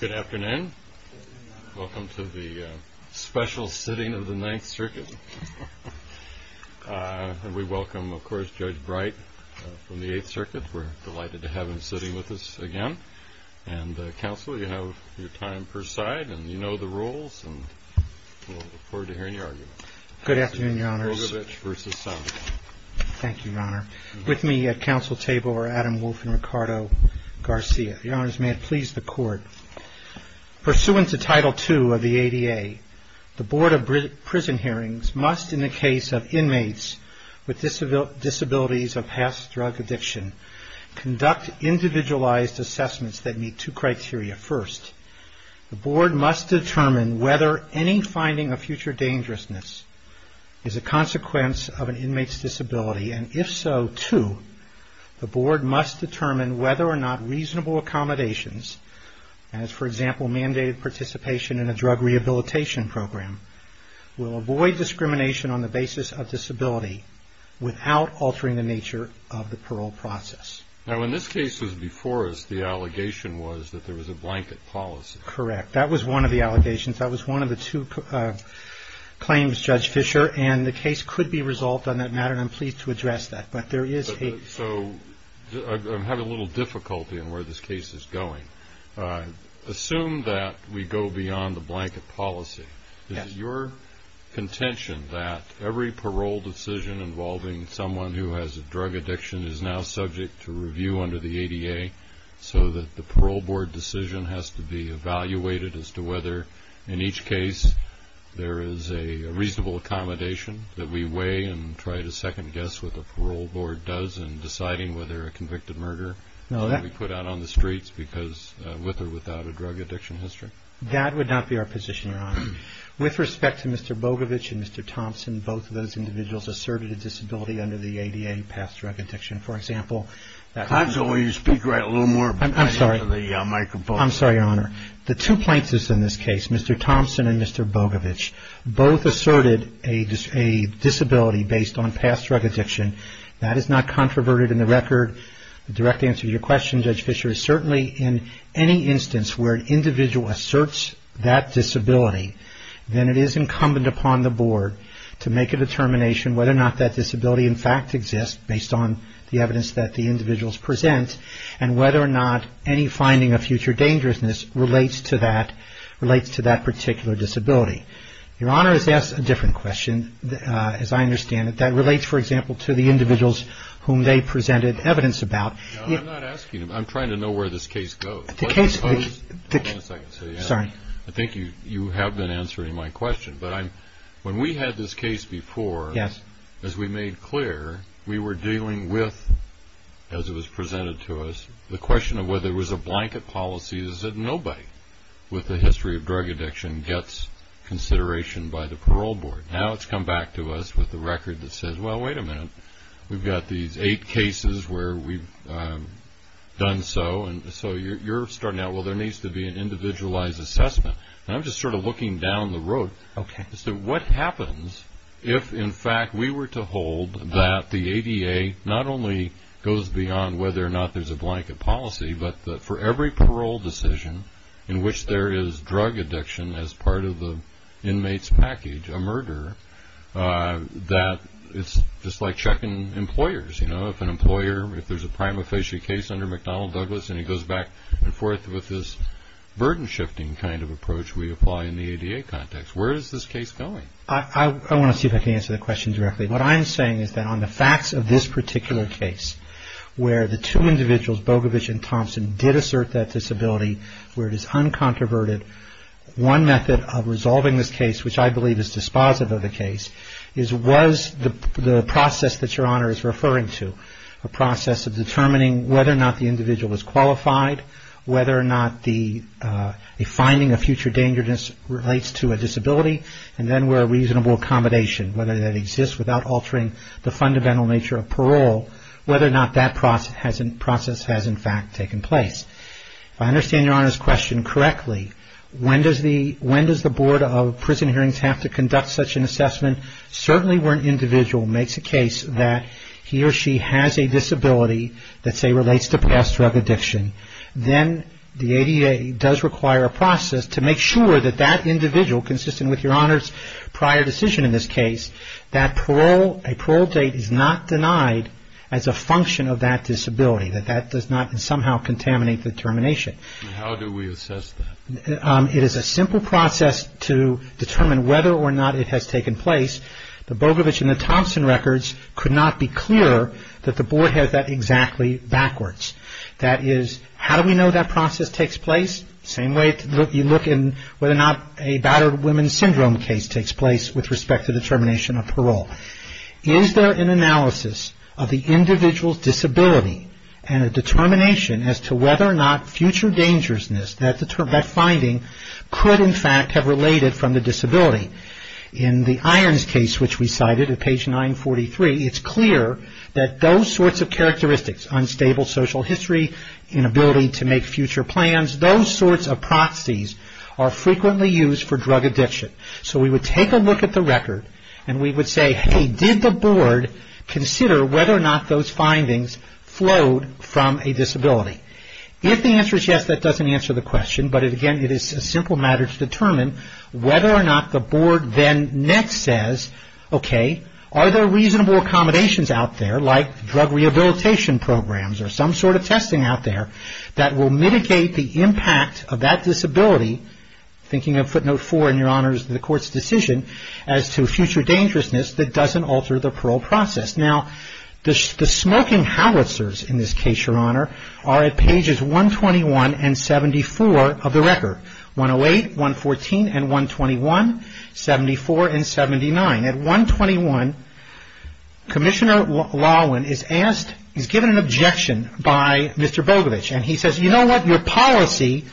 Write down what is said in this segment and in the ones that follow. Good afternoon. Welcome to the special sitting of the Ninth Circuit. And we welcome, of course, Judge Bright from the Eighth Circuit. We're delighted to have him sitting with us again. And, Counsel, you have your time per side, and you know the rules, and we'll look forward to hearing your argument. Good afternoon, Your Honors. Judge Rogovich v. Sandoval. Thank you, Your Honor. With me at counsel table are Adam Wolfe and Ricardo Garcia. Your Honors, may it please the Court. Pursuant to Title II of the ADA, the Board of Prison Hearings must, in the case of inmates with disabilities of past drug addiction, conduct individualized assessments that meet two criteria. First, the Board must determine whether any finding of future dangerousness is a consequence of an inmate's disability. And if so, too, the Board must determine whether or not reasonable accommodations, as, for example, mandated participation in a drug rehabilitation program, will avoid discrimination on the basis of disability without altering the nature of the parole process. Now, in this case, as before us, the allegation was that there was a blanket policy. Correct. That was one of the allegations. That was one of the two claims, Judge Fischer, and the case could be resolved on that matter, and I'm pleased to address that. But there is a... So, I'm having a little difficulty in where this case is going. Assume that we go beyond the blanket policy. Is it your contention that every parole decision involving someone who has a drug addiction is now subject to review under the ADA, so that the parole board decision has to be evaluated as to whether, in each case, there is a reasonable accommodation that we weigh and try to second-guess what the parole board does in deciding whether a convicted murder can be put out on the streets with or without a drug addiction history? That would not be our position, Your Honor. With respect to Mr. Bogovich and Mr. Thompson, both of those individuals asserted a disability under the ADA past drug addiction. For example... I'm sorry, Your Honor. The two plaintiffs in this case, Mr. Thompson and Mr. Bogovich, both asserted a disability based on past drug addiction. That is not controverted in the record. The direct answer to your question, Judge Fischer, is certainly in any instance where an individual asserts that disability, then it is incumbent upon the board to make a determination whether or not that disability, in fact, exists based on the evidence that the individuals present, and whether or not any finding of future dangerousness relates to that particular disability. Your Honor has asked a different question, as I understand it, that relates, for example, to the individuals whom they presented evidence about. I'm not asking him. I'm trying to know where this case goes. The case... Hold on a second. Sorry. I think you have been answering my question. When we had this case before, as we made clear, we were dealing with, as it was presented to us, the question of whether it was a blanket policy is that nobody with a history of drug addiction gets consideration by the parole board. Now it's come back to us with the record that says, well, wait a minute. We've got these eight cases where we've done so, and so you're starting out, well, there needs to be an individualized assessment. I'm just sort of looking down the road as to what happens if, in fact, we were to hold that the ADA not only goes beyond whether or not there's a blanket policy, but that for every parole decision in which there is drug addiction as part of the inmate's package, a murder, that it's just like checking employers. If an employer, if there's a prima facie case under McDonnell Douglas and he goes back and forth with this burden-shifting kind of approach we apply in the ADA context, where is this case going? I want to see if I can answer that question directly. What I'm saying is that on the facts of this particular case, where the two individuals, Bogovich and Thompson, did assert that disability, where it is uncontroverted, one method of resolving this case, which I believe is dispositive of the case, is was the process that Your Honor is referring to, a process of determining whether or not the individual is qualified, whether or not the finding of future dangerous relates to a disability, and then where a reasonable accommodation, whether that exists without altering the fundamental nature of parole, whether or not that process has in fact taken place. If I understand Your Honor's question correctly, when does the Board of Prison Hearings have to conduct such an assessment? Certainly where an individual makes a case that he or she has a disability that, say, relates to past drug addiction, then the ADA does require a process to make sure that that individual, consistent with Your Honor's prior decision in this case, that a parole date is not denied as a function of that disability, that that does not somehow contaminate the termination. And how do we assess that? It is a simple process to determine whether or not it has taken place. The Bogovich and Thompson records could not be clearer that the Board has that exactly backwards. That is, how do we know that process takes place? Same way you look in whether or not a battered women's syndrome case takes place with respect to the termination of parole. Is there an analysis of the individual's disability and a determination as to whether or not future dangerousness, that finding, could in fact have related from the disability? In the Irons case, which we cited at page 943, it's clear that those sorts of characteristics, unstable social history, inability to make future plans, those sorts of proxies are frequently used for drug addiction. So we would take a look at the record and we would say, hey, did the Board consider whether or not those findings flowed from a disability? If the answer is yes, that doesn't answer the question, but again, it is a simple matter to determine whether or not the Board then next says, okay, are there reasonable accommodations out there like drug rehabilitation programs or some sort of testing out there that will mitigate the impact of that disability, thinking of footnote 4 in your Honor's, the Court's decision, as to future dangerousness that doesn't alter the parole process. Now, the smoking howitzers in this case, your Honor, are at pages 121 and 74 of the record. 108, 114, and 121, 74, and 79. At 121, Commissioner Lawin is asked, he's given an objection by Mr. Bogovich and he says, you know what, your policy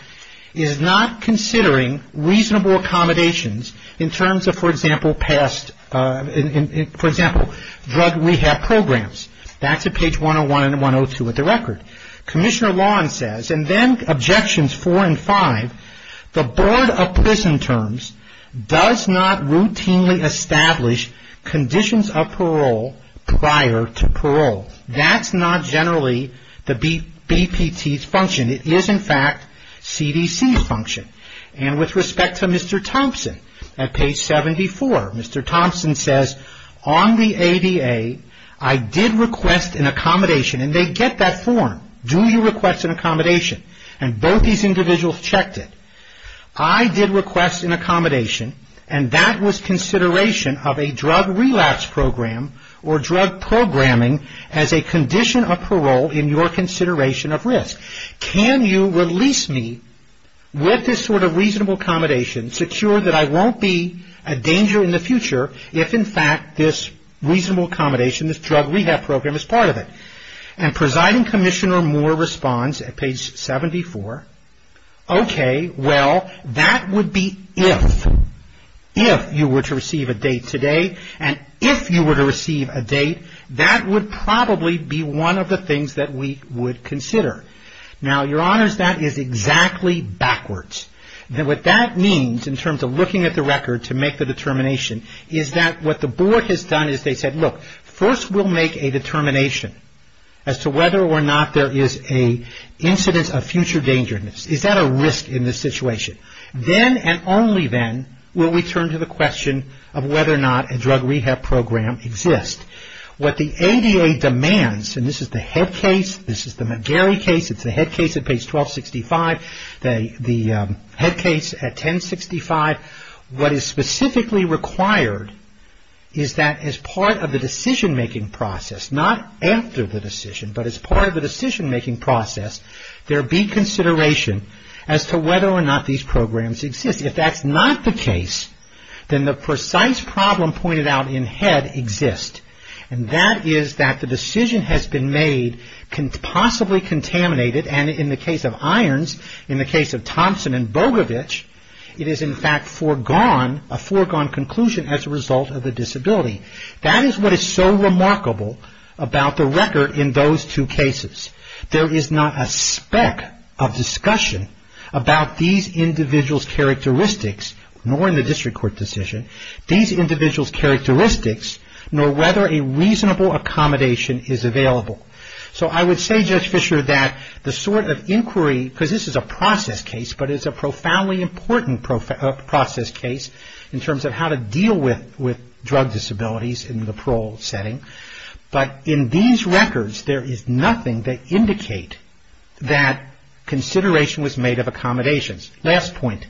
is not considering reasonable accommodations in terms of, for example, past, for example, drug rehab programs. That's at page 101 and 74. The Board of Prison Terms does not routinely establish conditions of parole prior to parole. That's not generally the BPT's function. It is, in fact, CDC's function. And with respect to Mr. Thompson at page 74, Mr. Thompson says, on the ADA, I did request an accommodation and they get that form. Do you request an accommodation? And both these individuals checked it. I did request an accommodation and that was consideration of a drug relapse program or drug programming as a condition of parole in your consideration of risk. Can you release me with this sort of reasonable accommodation, secure that I won't be a danger in the future if, in fact, this reasonable accommodation, this drug rehab program is part of it? And Presiding Commissioner Moore responds at page 74, okay, well, that would be if, if you were to receive a date today and if you were to receive a date, that would probably be one of the things that we would consider. Now, your honors, that is exactly backwards. What that means in terms of looking at the record to make the determination is that what the board has done is they said, look, first we'll make a determination as to whether or not there is an incident of future dangerousness. Is that a risk in this situation? Then and only then will we turn to the question of whether or not a drug rehab program exists. What the ADA demands, and this is the head case, this is the McGarry case, it's the head case at page 1265, the head case at 1065, what is specifically required is that as part of the decision-making process, not after the decision, but as part of the decision-making process, there be consideration as to whether or not these programs exist. If that's not the case, then the precise problem pointed out in head exists, and that is that the decision has been made, possibly contaminated, and in the case of Irons, in the case of Thompson and Bogovich, it is in fact foregone, a foregone conclusion as a result of the disability. That is what is so remarkable about the record in those two cases. There is not a speck of discussion about these individuals' characteristics, nor in the district court decision, these individuals' characteristics, nor whether a reasonable accommodation is available. So I would say, Judge Fisher, that the sort of inquiry, because this is a process case, but it's a profoundly important process case in terms of how to deal with drug disabilities in the parole setting, but in these records, there is nothing that indicate that consideration was made of accommodations. Last point.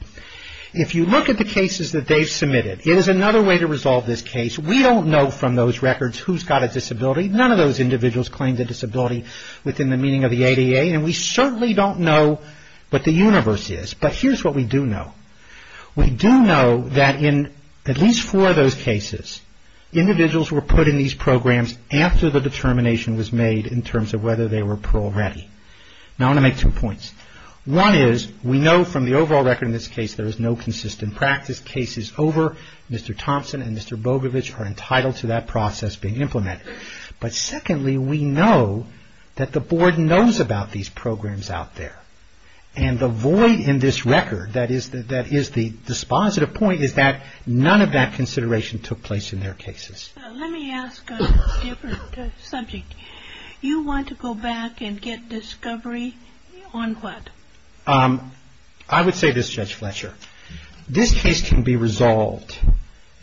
If you look at the cases that they've submitted, it is another way to resolve this case. We don't know from those records who's got a disability. None of those individuals claim the disability within the meaning of the ADA, and we certainly don't know what the universe is, but here's what we do know. We do know that in at least four of those cases, individuals were put in these programs after the determination was made in terms of whether they were parole ready. Now I'm going to make two points. One is, we know from the overall record in this case there is no consistent practice. Cases over Mr. Thompson and Mr. Bogovich are entitled to that process being implemented. But secondly, we know that the board knows about these programs out there, and the void in this record that is the dispositive point is that none of that consideration took place in their cases. Let me ask a different subject. You want to go back and get discovery on what? I would say this, Judge Fletcher. This case can be resolved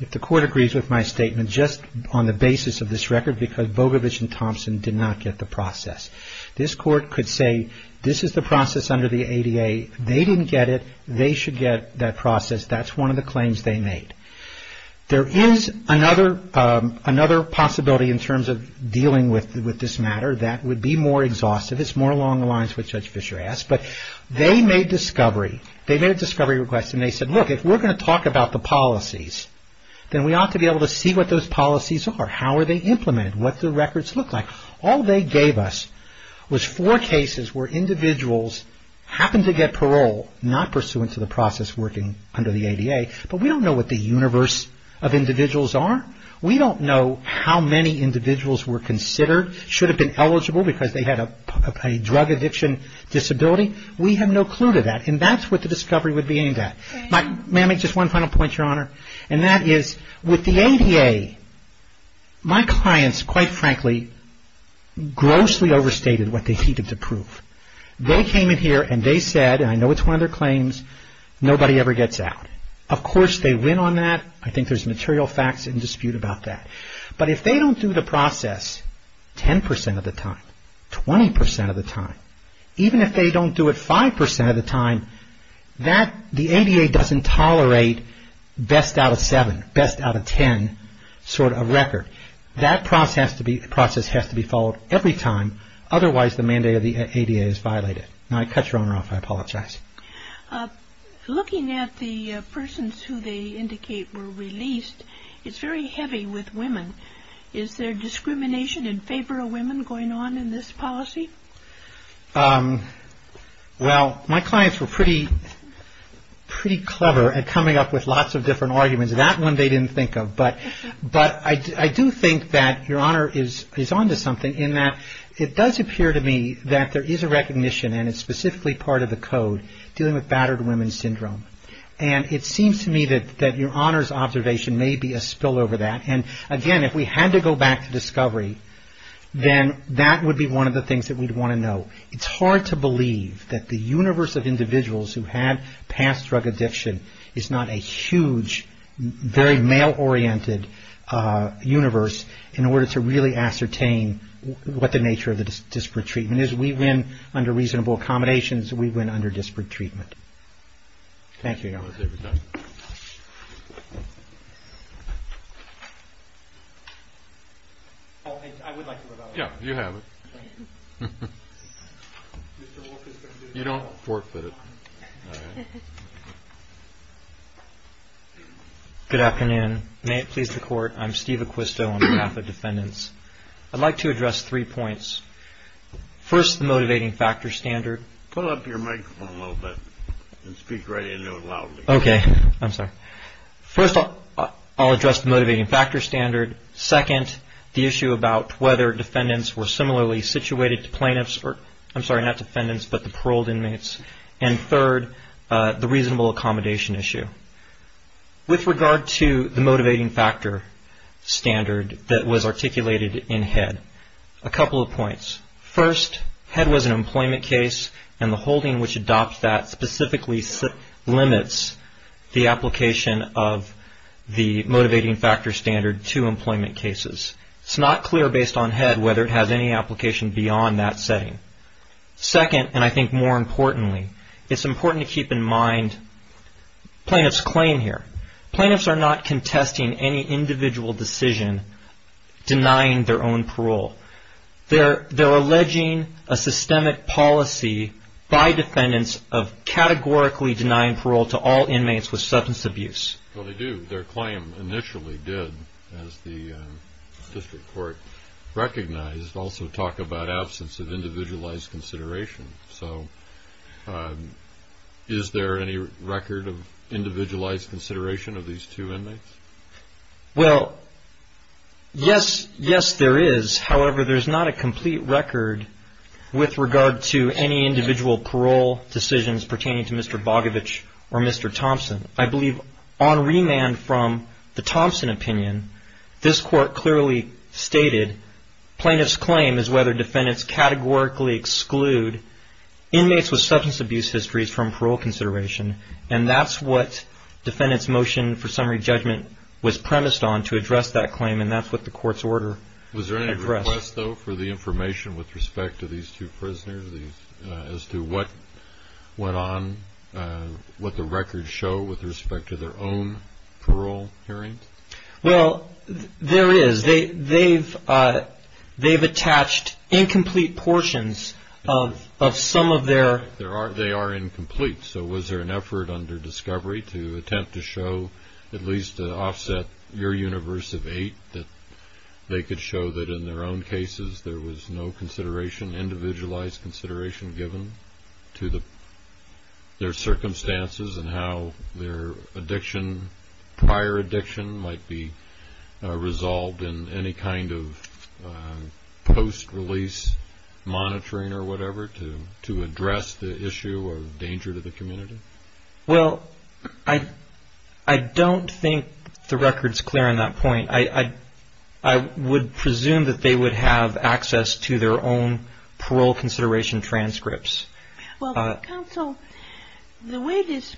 if the court agrees with my statement just on the basis of this record because Bogovich and Thompson did not get the process. This court could say, this is the process under the ADA. They didn't get it. They should get that process. That's one of the claims they made. There is another possibility in terms of dealing with this matter that would be more exhaustive. It's more along the lines of what Judge Fletcher asked, but they made a discovery request and they said, look, if we're going to talk about the policies, then we ought to be able to see what those policies are. How are they implemented? What do the records look like? All they gave us was four cases where individuals happened to get parole, not pursuant to the process working under the ADA, but we don't know what the universe of individuals are. We don't know how many individuals were considered, should have been eligible because they had a drug addiction disability. We have no clue to that, and that's what the discovery would be aimed at. May I make just one final point, Your Honor? That is, with the ADA, my clients, quite frankly, grossly overstated what they needed to prove. They came in here and they said, and I know it's one of their claims, nobody ever gets out. Of course, they win on that. I think there's material facts in dispute about that. But if they don't do the process 10 percent of the time, 20 percent of the time, even if they don't do it 5 percent of the time, the ADA doesn't tolerate best out of 7, best out of 10 sort of record. That process has to be followed every time, otherwise the mandate of the ADA is violated. Now, I cut Your Honor off. I apologize. Looking at the persons who they indicate were released, it's very heavy with women. Is there discrimination in favor of women going on in this policy? Well, my clients were pretty clever at coming up with lots of different arguments. That one they didn't think of. But I do think that Your Honor is on to something in that it does appear to me that there is a recognition, and it's specifically part of the code, dealing with battered women syndrome. And it seems to me that Your Honor's observation may be a spill over that. And again, if we had to go back to discovery, then that would be one of the things that we'd want to know. It's hard to believe that the universe of individuals who have past drug addiction is not a huge, very male-oriented universe in order to really ascertain what the nature of the disparate treatment is. We win under reasonable accommodations. We win under disparate treatment. Thank you, Your Honor. I would like to rebut. Yeah, you have it. You don't forfeit it. Good afternoon. May it please the Court, I'm Steve Acquisto on behalf of defendants. I'd like to address three points. First, the motivating factor standard. Pull up your microphone a little bit and speak right into it loudly. Okay. I'm sorry. First, I'll address the motivating factor standard. Second, the issue about whether defendants were similarly situated to plaintiffs or, I'm sorry, not defendants, but the paroled inmates. And third, the reasonable accommodation issue. With regard to the motivating factor standard that was articulated in Head, a couple of points. First, Head was an employment case and the holding which adopts that specifically limits the application of the motivating factor standard to employment cases. It's not clear based on Head whether it has any application beyond that setting. Second, and I think more importantly, it's important to keep in mind plaintiff's claim here. Plaintiffs are not contesting any individual decision denying their own parole. They're alleging a systemic policy by defendants of categorically denying parole to all inmates with substance abuse. Well, they do. Their claim initially did, as the district court recognized, also talk about absence of individualized consideration. So is there any record of individualized consideration of these two inmates? Well, yes. Yes, there is. However, there's not a complete record with regard to any individual parole decisions pertaining to Mr. Bogovich or Mr. Thompson. I believe on remand from the Thompson opinion, this court clearly stated plaintiff's claim is whether defendants categorically exclude inmates with substance abuse histories from parole consideration. And that's what defendant's motion for summary judgment was premised on to address that claim, and that's what the court's order addressed. Is there any request, though, for the information with respect to these two prisoners as to what went on, what the records show with respect to their own parole hearings? Well, there is. They've attached incomplete portions of some of their... They are incomplete. So was there an effort under discovery to attempt to show at least to offset your universe of eight that they could show that in their own cases there was no consideration, individualized consideration given to their circumstances and how their addiction, prior addiction, might be resolved in any kind of post-release monitoring or whatever to address the issue of danger to the community? Well, I don't think the record's clear on that point. I would presume that they would have access to their own parole consideration transcripts. Well, counsel, the way this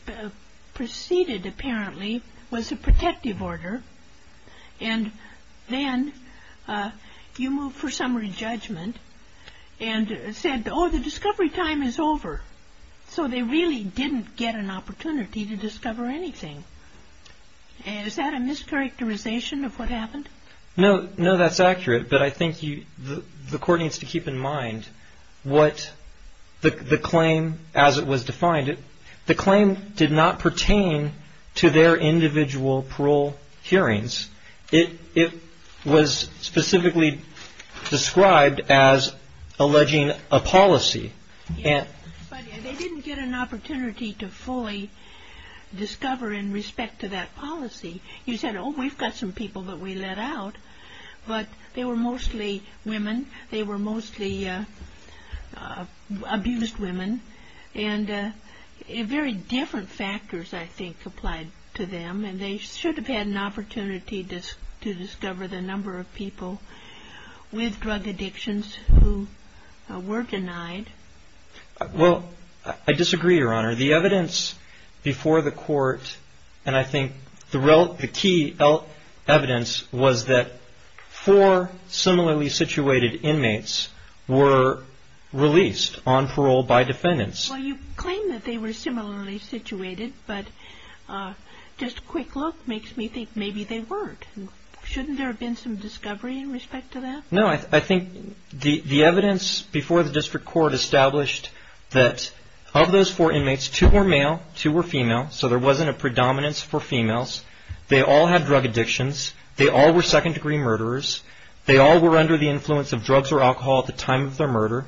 proceeded apparently was a protective order, and then you moved to the court for summary judgment and said, oh, the discovery time is over. So they really didn't get an opportunity to discover anything. Is that a mischaracterization of what happened? No, that's accurate, but I think the court needs to keep in mind what the claim, as it was defined, the claim did not pertain to their individual parole hearings. It was specifically described as alleging a policy. Yes, but they didn't get an opportunity to fully discover in respect to that policy. You said, oh, we've got some people that we let out, but they were mostly women. They were mostly abused women, and very different factors, I think, applied to them, and they should have had an opportunity to discover the number of people with drug addictions who were denied. Well, I disagree, Your Honor. The evidence before the court, and I think the key evidence was that four similarly situated inmates were released on parole by defendants. Well, you claim that they were similarly situated, but just a quick look makes me think maybe they weren't. Shouldn't there have been some discovery in respect to that? No, I think the evidence before the district court established that of those four inmates, two were male, two were female, so there wasn't a predominance for females. They all had drug addictions. They all were second-degree murderers. They all were under the influence of drugs or alcohol at the time of their murder,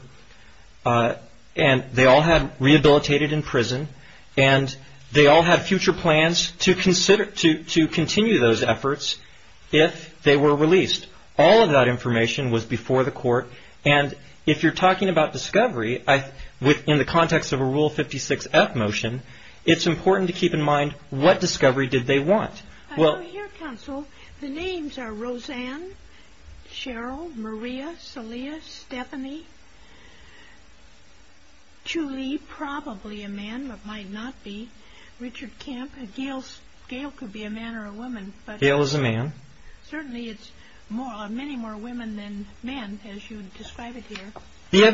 and they all had rehabilitated in prison, and they all had future plans to continue those efforts if they were released. All of that information was before the court, and if you're talking about discovery in the context of a Rule 56-F motion, it's important to keep in mind what discovery did they want. I know here, Counsel, the names are Roseanne, Cheryl, Maria, Celia, Stephanie, Julie, probably a man, but might not be, Richard Kemp, Gail could be a man or a woman. Gail is a man. Certainly, it's many more women than men, as you describe it here. The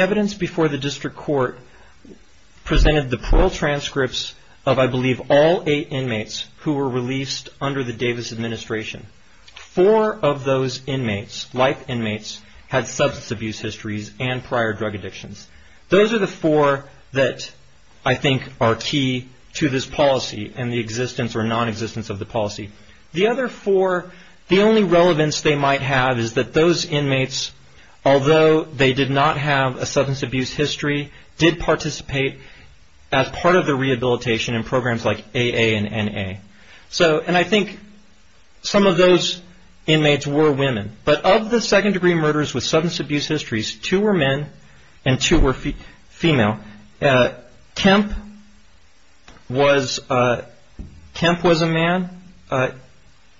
evidence before the district court presented the parole transcripts of, I believe, all eight inmates who were released under the Davis administration. Four of those inmates, life inmates, had substance abuse histories and prior drug addictions. Those are the four that, I think, are key to this policy and the existence or non-existence of the policy. The other four, the only relevance they might have is that those inmates, although they did not have a substance abuse history, did participate as part of the rehabilitation and programs like AA and NA. I think some of those inmates were women, but of the second degree murders with substance abuse histories, two were men and two were female. Kemp was a man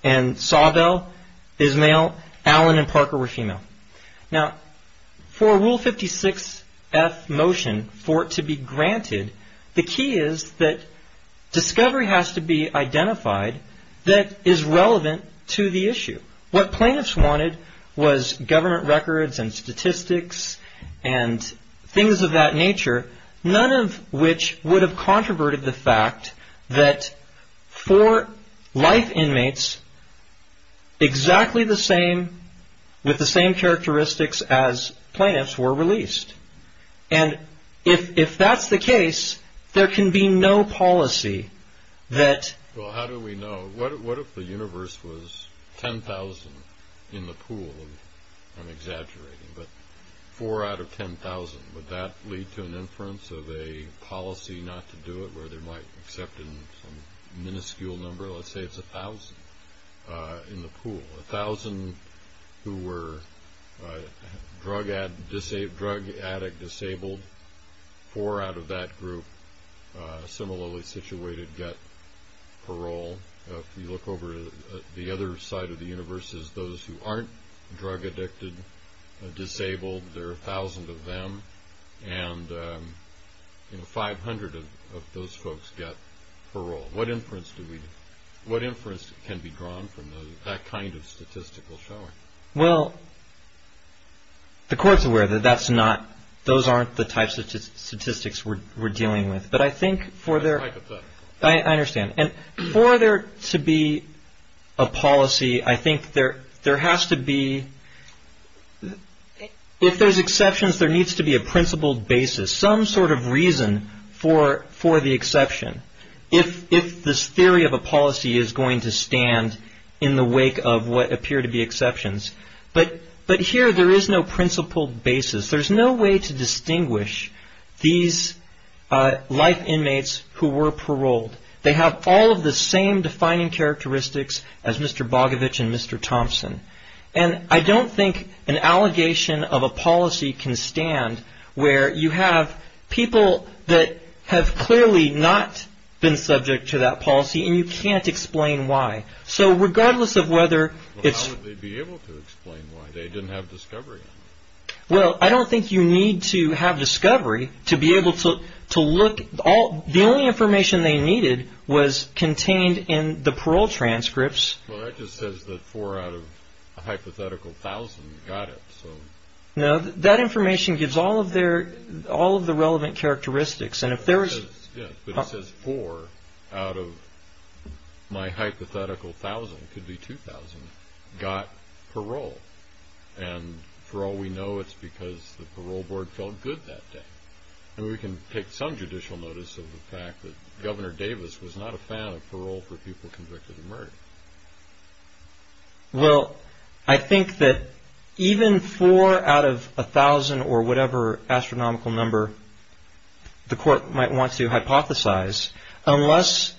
and Sawbell is male. Allen and Parker were female. Now, for Rule 56F motion, for it to be granted, the key is that discovery has to be identified that is relevant to the issue. What plaintiffs wanted was government records and statistics and things of that nature, none of which would have controverted the fact that four life characteristics as plaintiffs were released. If that's the case, there can be no policy that... Well, how do we know? What if the universe was 10,000 in the pool? I'm exaggerating, but four out of 10,000, would that lead to an inference of a policy not to do it where they might accept a minuscule number, let's say it's 1,000 in the pool. 1,000 who were drug addict disabled, four out of that group similarly situated, got parole. If you look over to the other side of the universe, those who aren't drug addicted disabled, there are 1,000 of them and 500 of those folks get parole. What inference can be drawn from that kind of statistical showing? Well, the court's aware that those aren't the types of statistics we're dealing with, It's hypothetical. principle basis, some sort of reason for the exception, if this theory of a policy is going to stand in the wake of what appear to be exceptions. But here there is no principled basis. There's no way to distinguish these life inmates who were paroled. They have all of the same defining characteristics as Mr. Bogovich and Mr. Thompson. And I don't think an allegation of a policy can stand where you have people that have clearly not been subject to that policy and you can't explain why. So regardless of whether it's... How would they be able to explain why? They didn't have discovery. Well, I don't think you need to have discovery to be able to look. The only information they needed was contained in the parole transcripts. Well, that just says that four out of a hypothetical thousand got it. No, that information gives all of the relevant characteristics. But it says four out of my hypothetical thousand, could be two thousand, got parole. And for all we know, it's because the parole board felt good that day. And we can take some judicial notice of the fact that Governor Davis was not a fan of parole for people convicted of murder. Well, I think that even four out of a thousand or whatever astronomical number the court might want to hypothesize, unless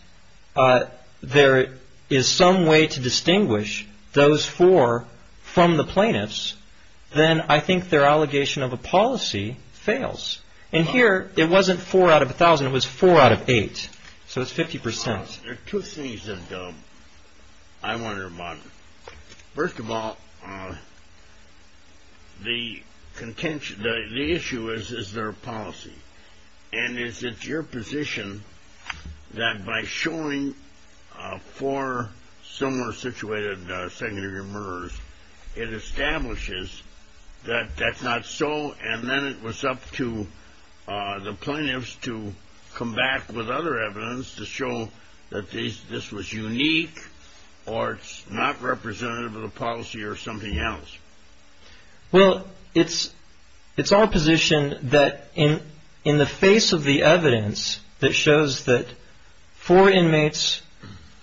there is some way to distinguish those four from the eight. So it's 50%. There are two things that I wonder about. First of all, the issue is, is there a policy? And is it your position that by showing four similar situated secondary murderers, it establishes that that's not so? And then it was up to the plaintiffs to come back with other evidence to show that this was unique or it's not representative of the policy or something else? Well, it's our position that in the face of the evidence that shows that four inmates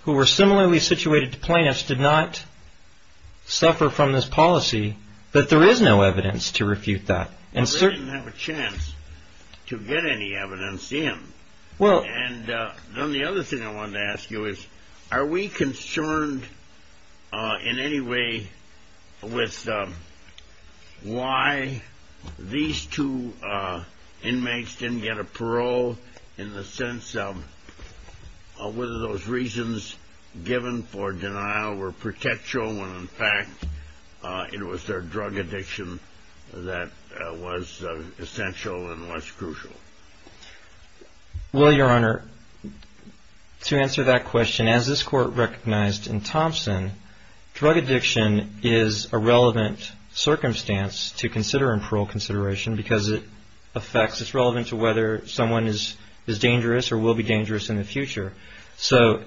who were convicted, there is no evidence to refute that. Well, they didn't have a chance to get any evidence in. And then the other thing I wanted to ask you is, are we concerned in any way with why these two inmates didn't get a parole in the sense of whether those reasons given for denial were protectional when in fact it was their drug addiction that was essential and less crucial? Well, Your Honor, to answer that question, as this court recognized in Thompson, drug addiction is a relevant circumstance to consider in parole consideration because it affects, it's relevant to whether someone is dangerous or will be dangerous in the future. So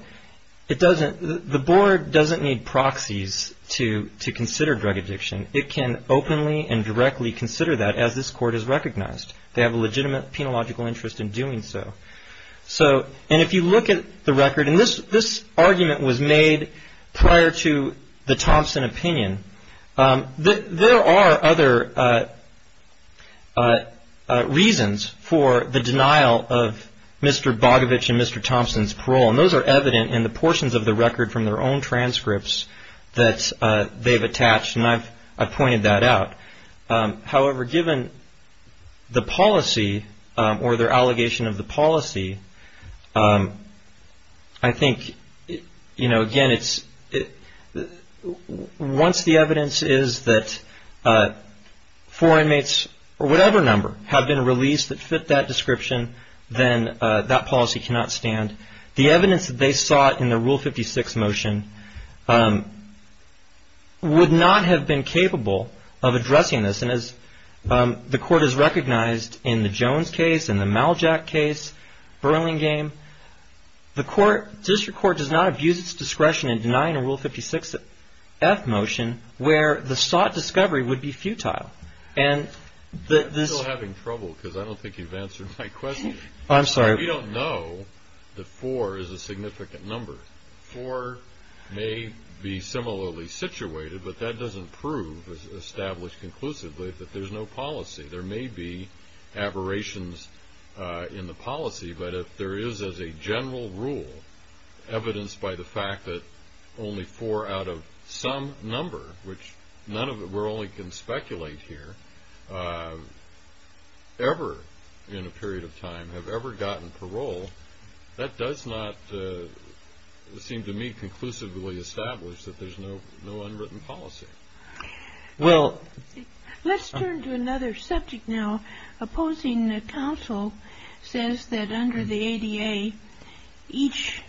the board doesn't need proxies to consider drug addiction. It can openly and directly consider that as this court has recognized. They have a legitimate penological interest in doing so. And if you look at the record, and this argument was made prior to the Thompson opinion, there are other reasons for the denial of Mr. Bogovich and Mr. Thompson's parole. And those are evident in the portions of the record from their own transcripts that they've attached. And I've pointed that out. However, given the policy or their allegation of the policy, I think, you know, again, once the evidence is that four inmates or whatever number have been released that fit that description, then that policy cannot stand. The evidence that they sought in the Rule 56 motion would not have been capable of addressing this. And as the court has recognized in the Jones case, in the Maljack case, Burlingame, the district court does not abuse its discretion in denying a Rule 56-F motion where the sought discovery would be futile. And this – You're still having trouble because I don't think you've answered my question. I'm sorry. We don't know that four is a significant number. Four may be similarly situated, but that doesn't prove, as established conclusively, that there's no policy. There may be aberrations in the policy. But if there is, as a general rule, evidence by the fact that only four out of some number, which none of it – we can only speculate here – ever, in a period of time, have ever gotten parole, that does not seem to me conclusively established that there's no unwritten policy. Well – Let's turn to another subject now. Opposing counsel says that under the ADA, each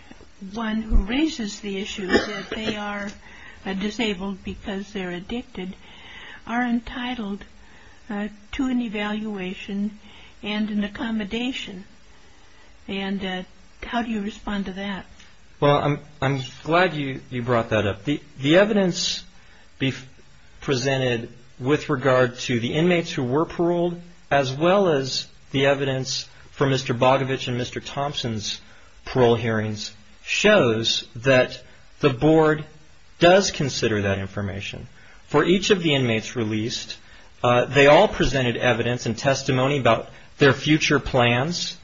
one who raises the issue that they are disabled because they're addicted are entitled to an evaluation and an accommodation. And how do you respond to that? Well, I'm glad you brought that up. The evidence presented with regard to the inmates who were paroled, as well as the evidence from Mr. Bogovich and Mr. Thompson's parole hearings, shows that the Board does consider that information. For each of the inmates released, they all presented evidence and testimony about their future plans.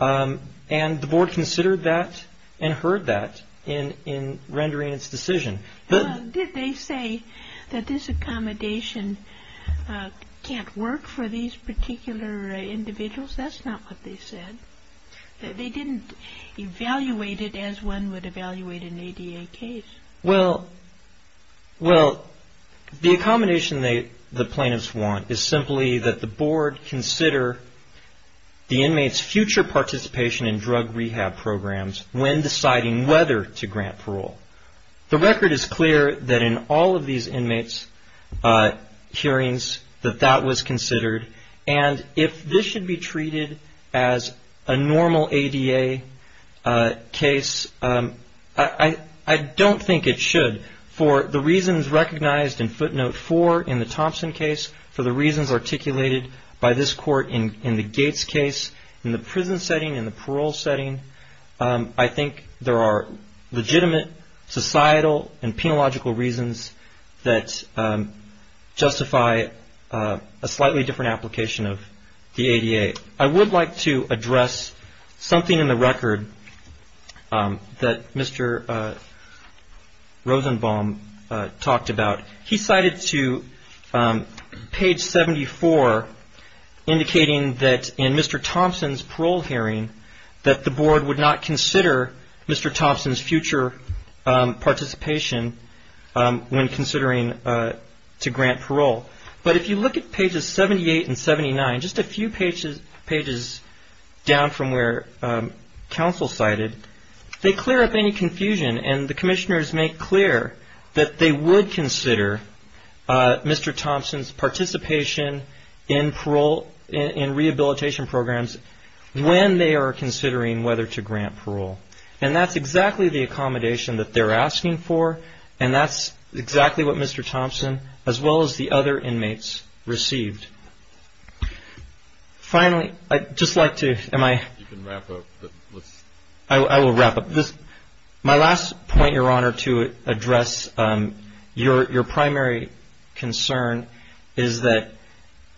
And the Board considered that and heard that in rendering its decision. Did they say that this accommodation can't work for these particular individuals? That's not what they said. They didn't evaluate it as one would evaluate an ADA case. Well, the accommodation the plaintiffs want is simply that the Board consider the inmates' future participation in drug rehab programs when deciding whether to grant parole. The record is clear that in all of these inmates' hearings that that was considered. And if this should be treated as a normal ADA case, I don't think it should. For the reasons recognized in footnote four in the Thompson case, for the reasons articulated by this Court in the Gates case, in the prison setting, in the parole setting, I think there are legitimate societal and penological reasons that justify a slightly different application of the ADA. I would like to address something in the record that Mr. Rosenbaum talked about. He cited to page 74, indicating that in Mr. Thompson's parole hearing, that the Board would not consider Mr. Thompson's future participation when considering to grant parole. But if you look at pages 78 and 79, just a few pages down from where counsel cited, they clear up any confusion and the commissioners make clear that they would consider Mr. Thompson's participation in parole, in rehabilitation programs, when they are considering whether to grant parole. And that's exactly the accommodation that they're asking for, and that's exactly what Mr. Thompson, as well as the other inmates, received. Finally, I'd just like to... You can wrap up. I will wrap up. My last point, Your Honor, to address your primary concern is that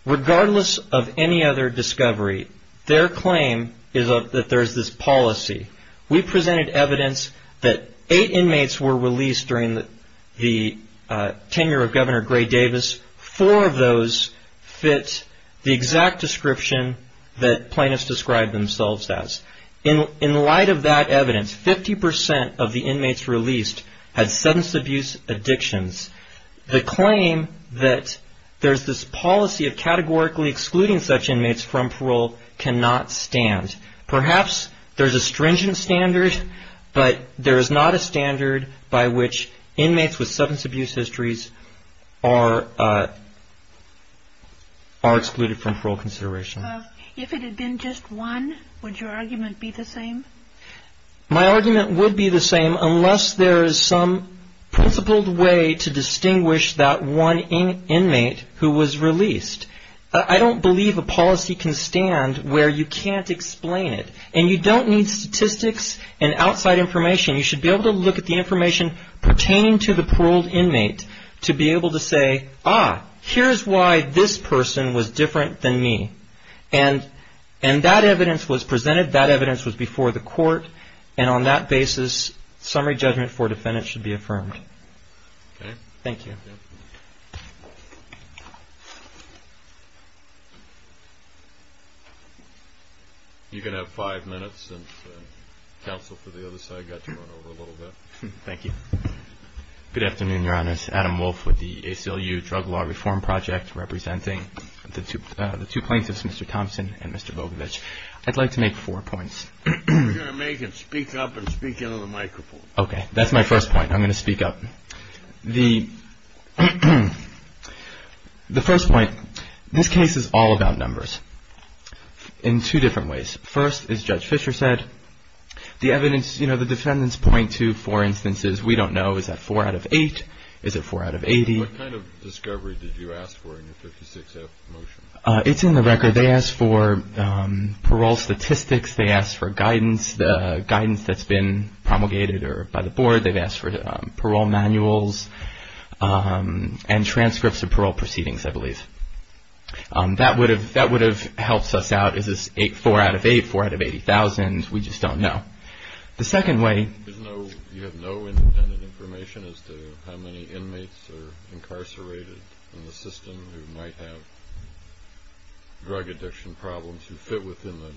regardless of any other discovery, their claim is that there's this policy. We presented evidence that eight inmates were released during the tenure of Governor Gray Davis. Four of those fit the exact description that plaintiffs described themselves as. In light of that evidence, 50% of the inmates released had substance abuse addictions. The claim that there's this policy of categorically excluding such inmates from parole cannot stand. Perhaps there's a stringent standard, but there is not a standard by which inmates with substance abuse histories are excluded from parole consideration. If it had been just one, would your argument be the same? My argument would be the same, unless there is some principled way to distinguish that one inmate who was released. I don't believe a policy can stand where you can't explain it. And you don't need statistics and outside information. You should be able to look at the information pertaining to the paroled inmate to be able to say, ah, here's why this person was different than me. And that evidence was presented. That evidence was before the court. And on that basis, summary judgment for defendants should be affirmed. Okay. Thank you. Thank you. You can have five minutes since counsel for the other side got to run over a little bit. Thank you. Good afternoon, Your Honors. Adam Wolf with the ACLU Drug Law Reform Project, representing the two plaintiffs, Mr. Thompson and Mr. Bogovich. I'd like to make four points. We're going to make him speak up and speak into the microphone. Okay, that's my first point. I'm going to speak up. The first point, this case is all about numbers in two different ways. First, as Judge Fischer said, the evidence, you know, the defendants point to four instances. We don't know, is that four out of eight? Is it four out of 80? What kind of discovery did you ask for in your 56-F motion? It's in the record. They asked for parole statistics. They asked for guidance, the guidance that's been promulgated by the board. They've asked for parole manuals and transcripts of parole proceedings, I believe. That would have helped us out. Is this four out of eight, four out of 80,000? We just don't know. The second way. You have no independent information as to how many inmates are incarcerated in the system who might have drug addiction problems who fit within the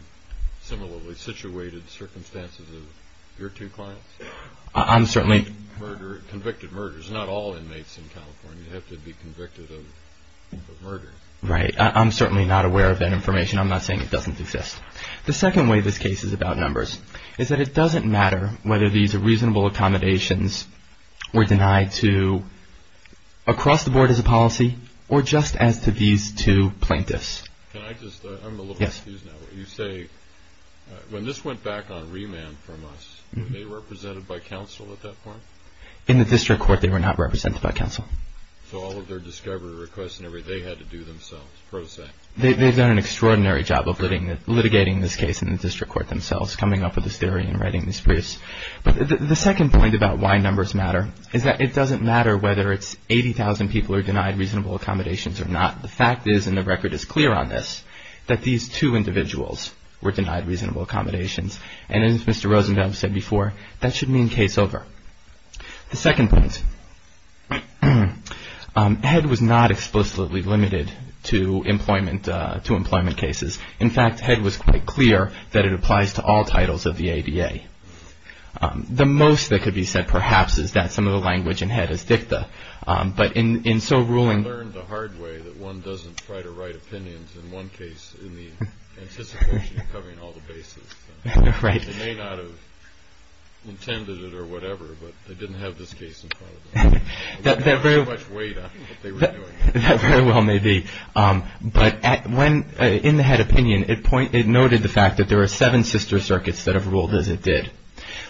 similarly situated circumstances of your two clients? I'm certainly... Convicted murders. Not all inmates in California have to be convicted of murder. Right. I'm certainly not aware of that information. I'm not saying it doesn't exist. The second way this case is about numbers is that it doesn't matter whether these reasonable accommodations were denied to across the board as a policy or just as to these two plaintiffs. Can I just... I'm a little confused now. You say when this went back on remand from us, were they represented by counsel at that point? In the district court, they were not represented by counsel. So all of their discovery requests and everything, they had to do themselves, pro se? They've done an extraordinary job of litigating this case in the district court themselves, coming up with this theory and writing these briefs. But the second point about why numbers matter is that it doesn't matter whether it's 80,000 people are denied reasonable accommodations or not. The fact is, and the record is clear on this, that these two individuals were denied reasonable accommodations. And as Mr. Rosenthal said before, that should mean case over. The second point, HEDD was not explicitly limited to employment cases. In fact, HEDD was quite clear that it applies to all titles of the ADA. The most that could be said perhaps is that some of the language in HEDD is dicta. I learned the hard way that one doesn't try to write opinions in one case in the anticipation of covering all the bases. They may not have intended it or whatever, but they didn't have this case in front of them. They didn't have much weight on what they were doing. That very well may be. But in the HEDD opinion, it noted the fact that there are seven sister circuits that have ruled as it did.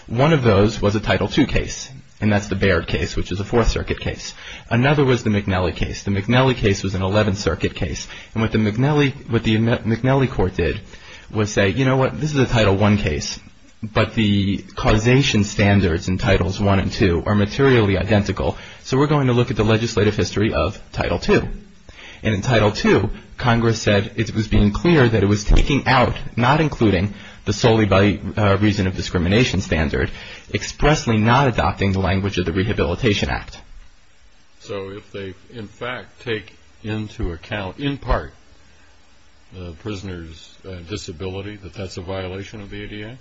One of those was a Title II case, and that's the Baird case, which is a Fourth Circuit case. Another was the McNelly case. The McNelly case was an Eleventh Circuit case. And what the McNelly court did was say, you know what, this is a Title I case, but the causation standards in Titles I and II are materially identical, so we're going to look at the legislative history of Title II. And in Title II, Congress said it was being clear that it was taking out, not including the solely by reason of discrimination standard, expressly not adopting the language of the Rehabilitation Act. So if they in fact take into account, in part, the prisoner's disability, that that's a violation of the ADA?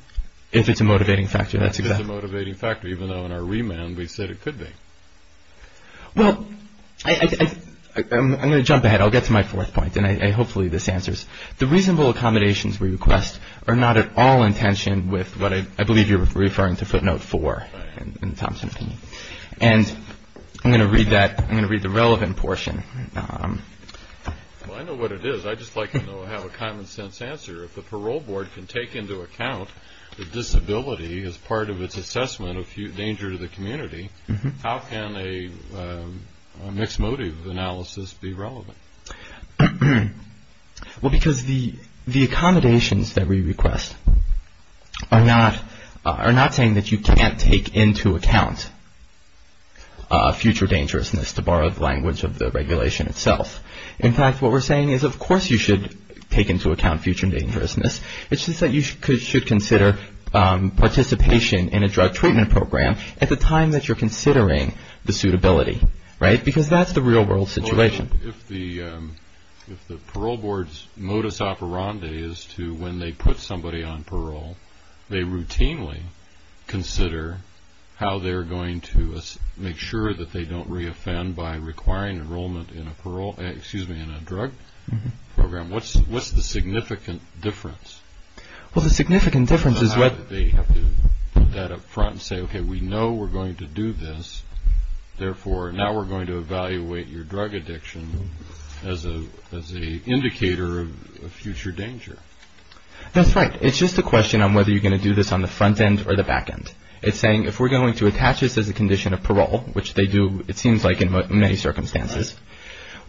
If it's a motivating factor, that's exactly right. If it's a motivating factor, even though in our remand we said it could be. Well, I'm going to jump ahead. I'll get to my fourth point, and hopefully this answers. The reasonable accommodations we request are not at all in tension with what I believe you're referring to footnote 4 in Thompson's opinion. And I'm going to read that. I'm going to read the relevant portion. Well, I know what it is. I just like to know I have a common sense answer. If the parole board can take into account the disability as part of its assessment of danger to the community, how can a mixed motive analysis be relevant? Well, because the accommodations that we request are not saying that you can't take into account future dangerousness, to borrow the language of the regulation itself. In fact, what we're saying is, of course you should take into account future dangerousness. It's just that you should consider participation in a drug treatment program at the time that you're considering the suitability. Right? Because that's the real world situation. If the parole board's modus operandi is to, when they put somebody on parole, they routinely consider how they're going to make sure that they don't reoffend by requiring enrollment in a drug program. What's the significant difference? Well, the significant difference is whether they have to put that up front and say, okay, we know we're going to do this. Therefore, now we're going to evaluate your drug addiction as an indicator of future danger. That's right. It's just a question on whether you're going to do this on the front end or the back end. It's saying, if we're going to attach this as a condition of parole, which they do, it seems like, in many circumstances,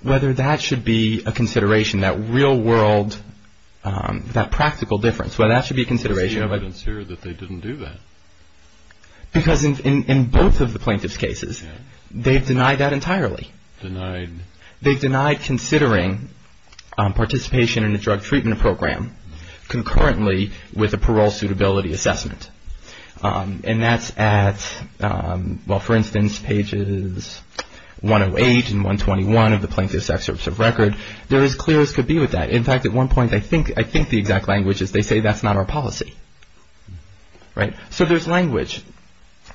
whether that should be a consideration, that real world, that practical difference, whether that should be a consideration. It's clear that they didn't do that. Because in both of the plaintiff's cases, they've denied that entirely. Denied. Denied. They've denied considering participation in a drug treatment program concurrently with a parole suitability assessment. And that's at, well, for instance, pages 108 and 121 of the Plaintiff's Excerpts of Record. They're as clear as could be with that. In fact, at one point, I think the exact language is they say that's not our policy. Right? So there's language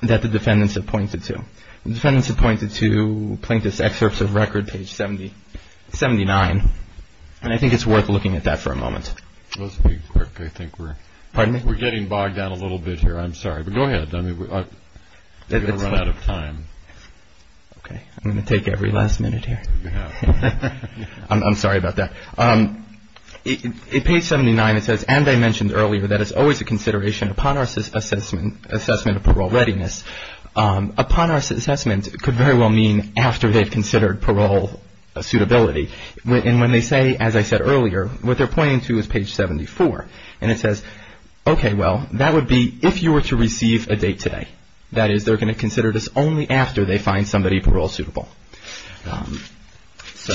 that the defendants have pointed to. The defendants have pointed to Plaintiff's Excerpts of Record, page 79. And I think it's worth looking at that for a moment. Let's be quick. I think we're getting bogged down a little bit here. I'm sorry. But go ahead. We're going to run out of time. Okay. I'm going to take every last minute here. I'm sorry about that. In page 79, it says, and I mentioned earlier, that it's always a consideration upon our assessment of parole readiness. Upon our assessment could very well mean after they've considered parole suitability. And when they say, as I said earlier, what they're pointing to is page 74. And it says, okay, well, that would be if you were to receive a date today. That is, they're going to consider this only after they find somebody parole suitable. So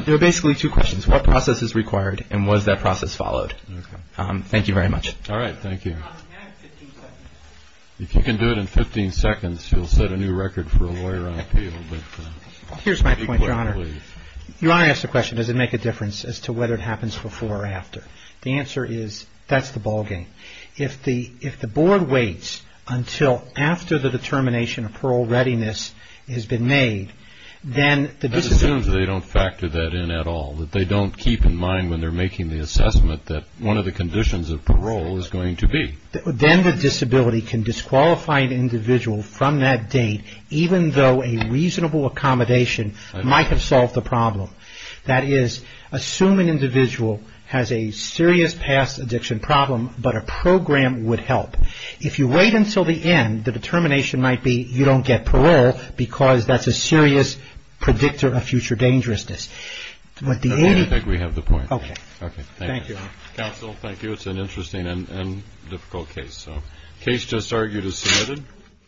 there are basically two questions. What process is required and was that process followed? Okay. Thank you very much. All right. Thank you. Your Honor, can I have 15 seconds? If you can do it in 15 seconds, you'll set a new record for a lawyer on appeal. Here's my point, Your Honor. You want to ask the question, does it make a difference as to whether it happens before or after? The answer is, that's the ballgame. If the board waits until after the determination of parole readiness has been made, then the decision… That assumes they don't factor that in at all, that they don't keep in mind when they're making the assessment that one of the conditions of parole is going to be. Then the disability can disqualify an individual from that date, even though a reasonable accommodation might have solved the problem. That is, assume an individual has a serious past addiction problem, but a program would help. If you wait until the end, the determination might be you don't get parole because that's a serious predictor of future dangerousness. I think we have the point. Okay. Thank you. Counsel, thank you. It's an interesting and difficult case. The case just argued is submitted.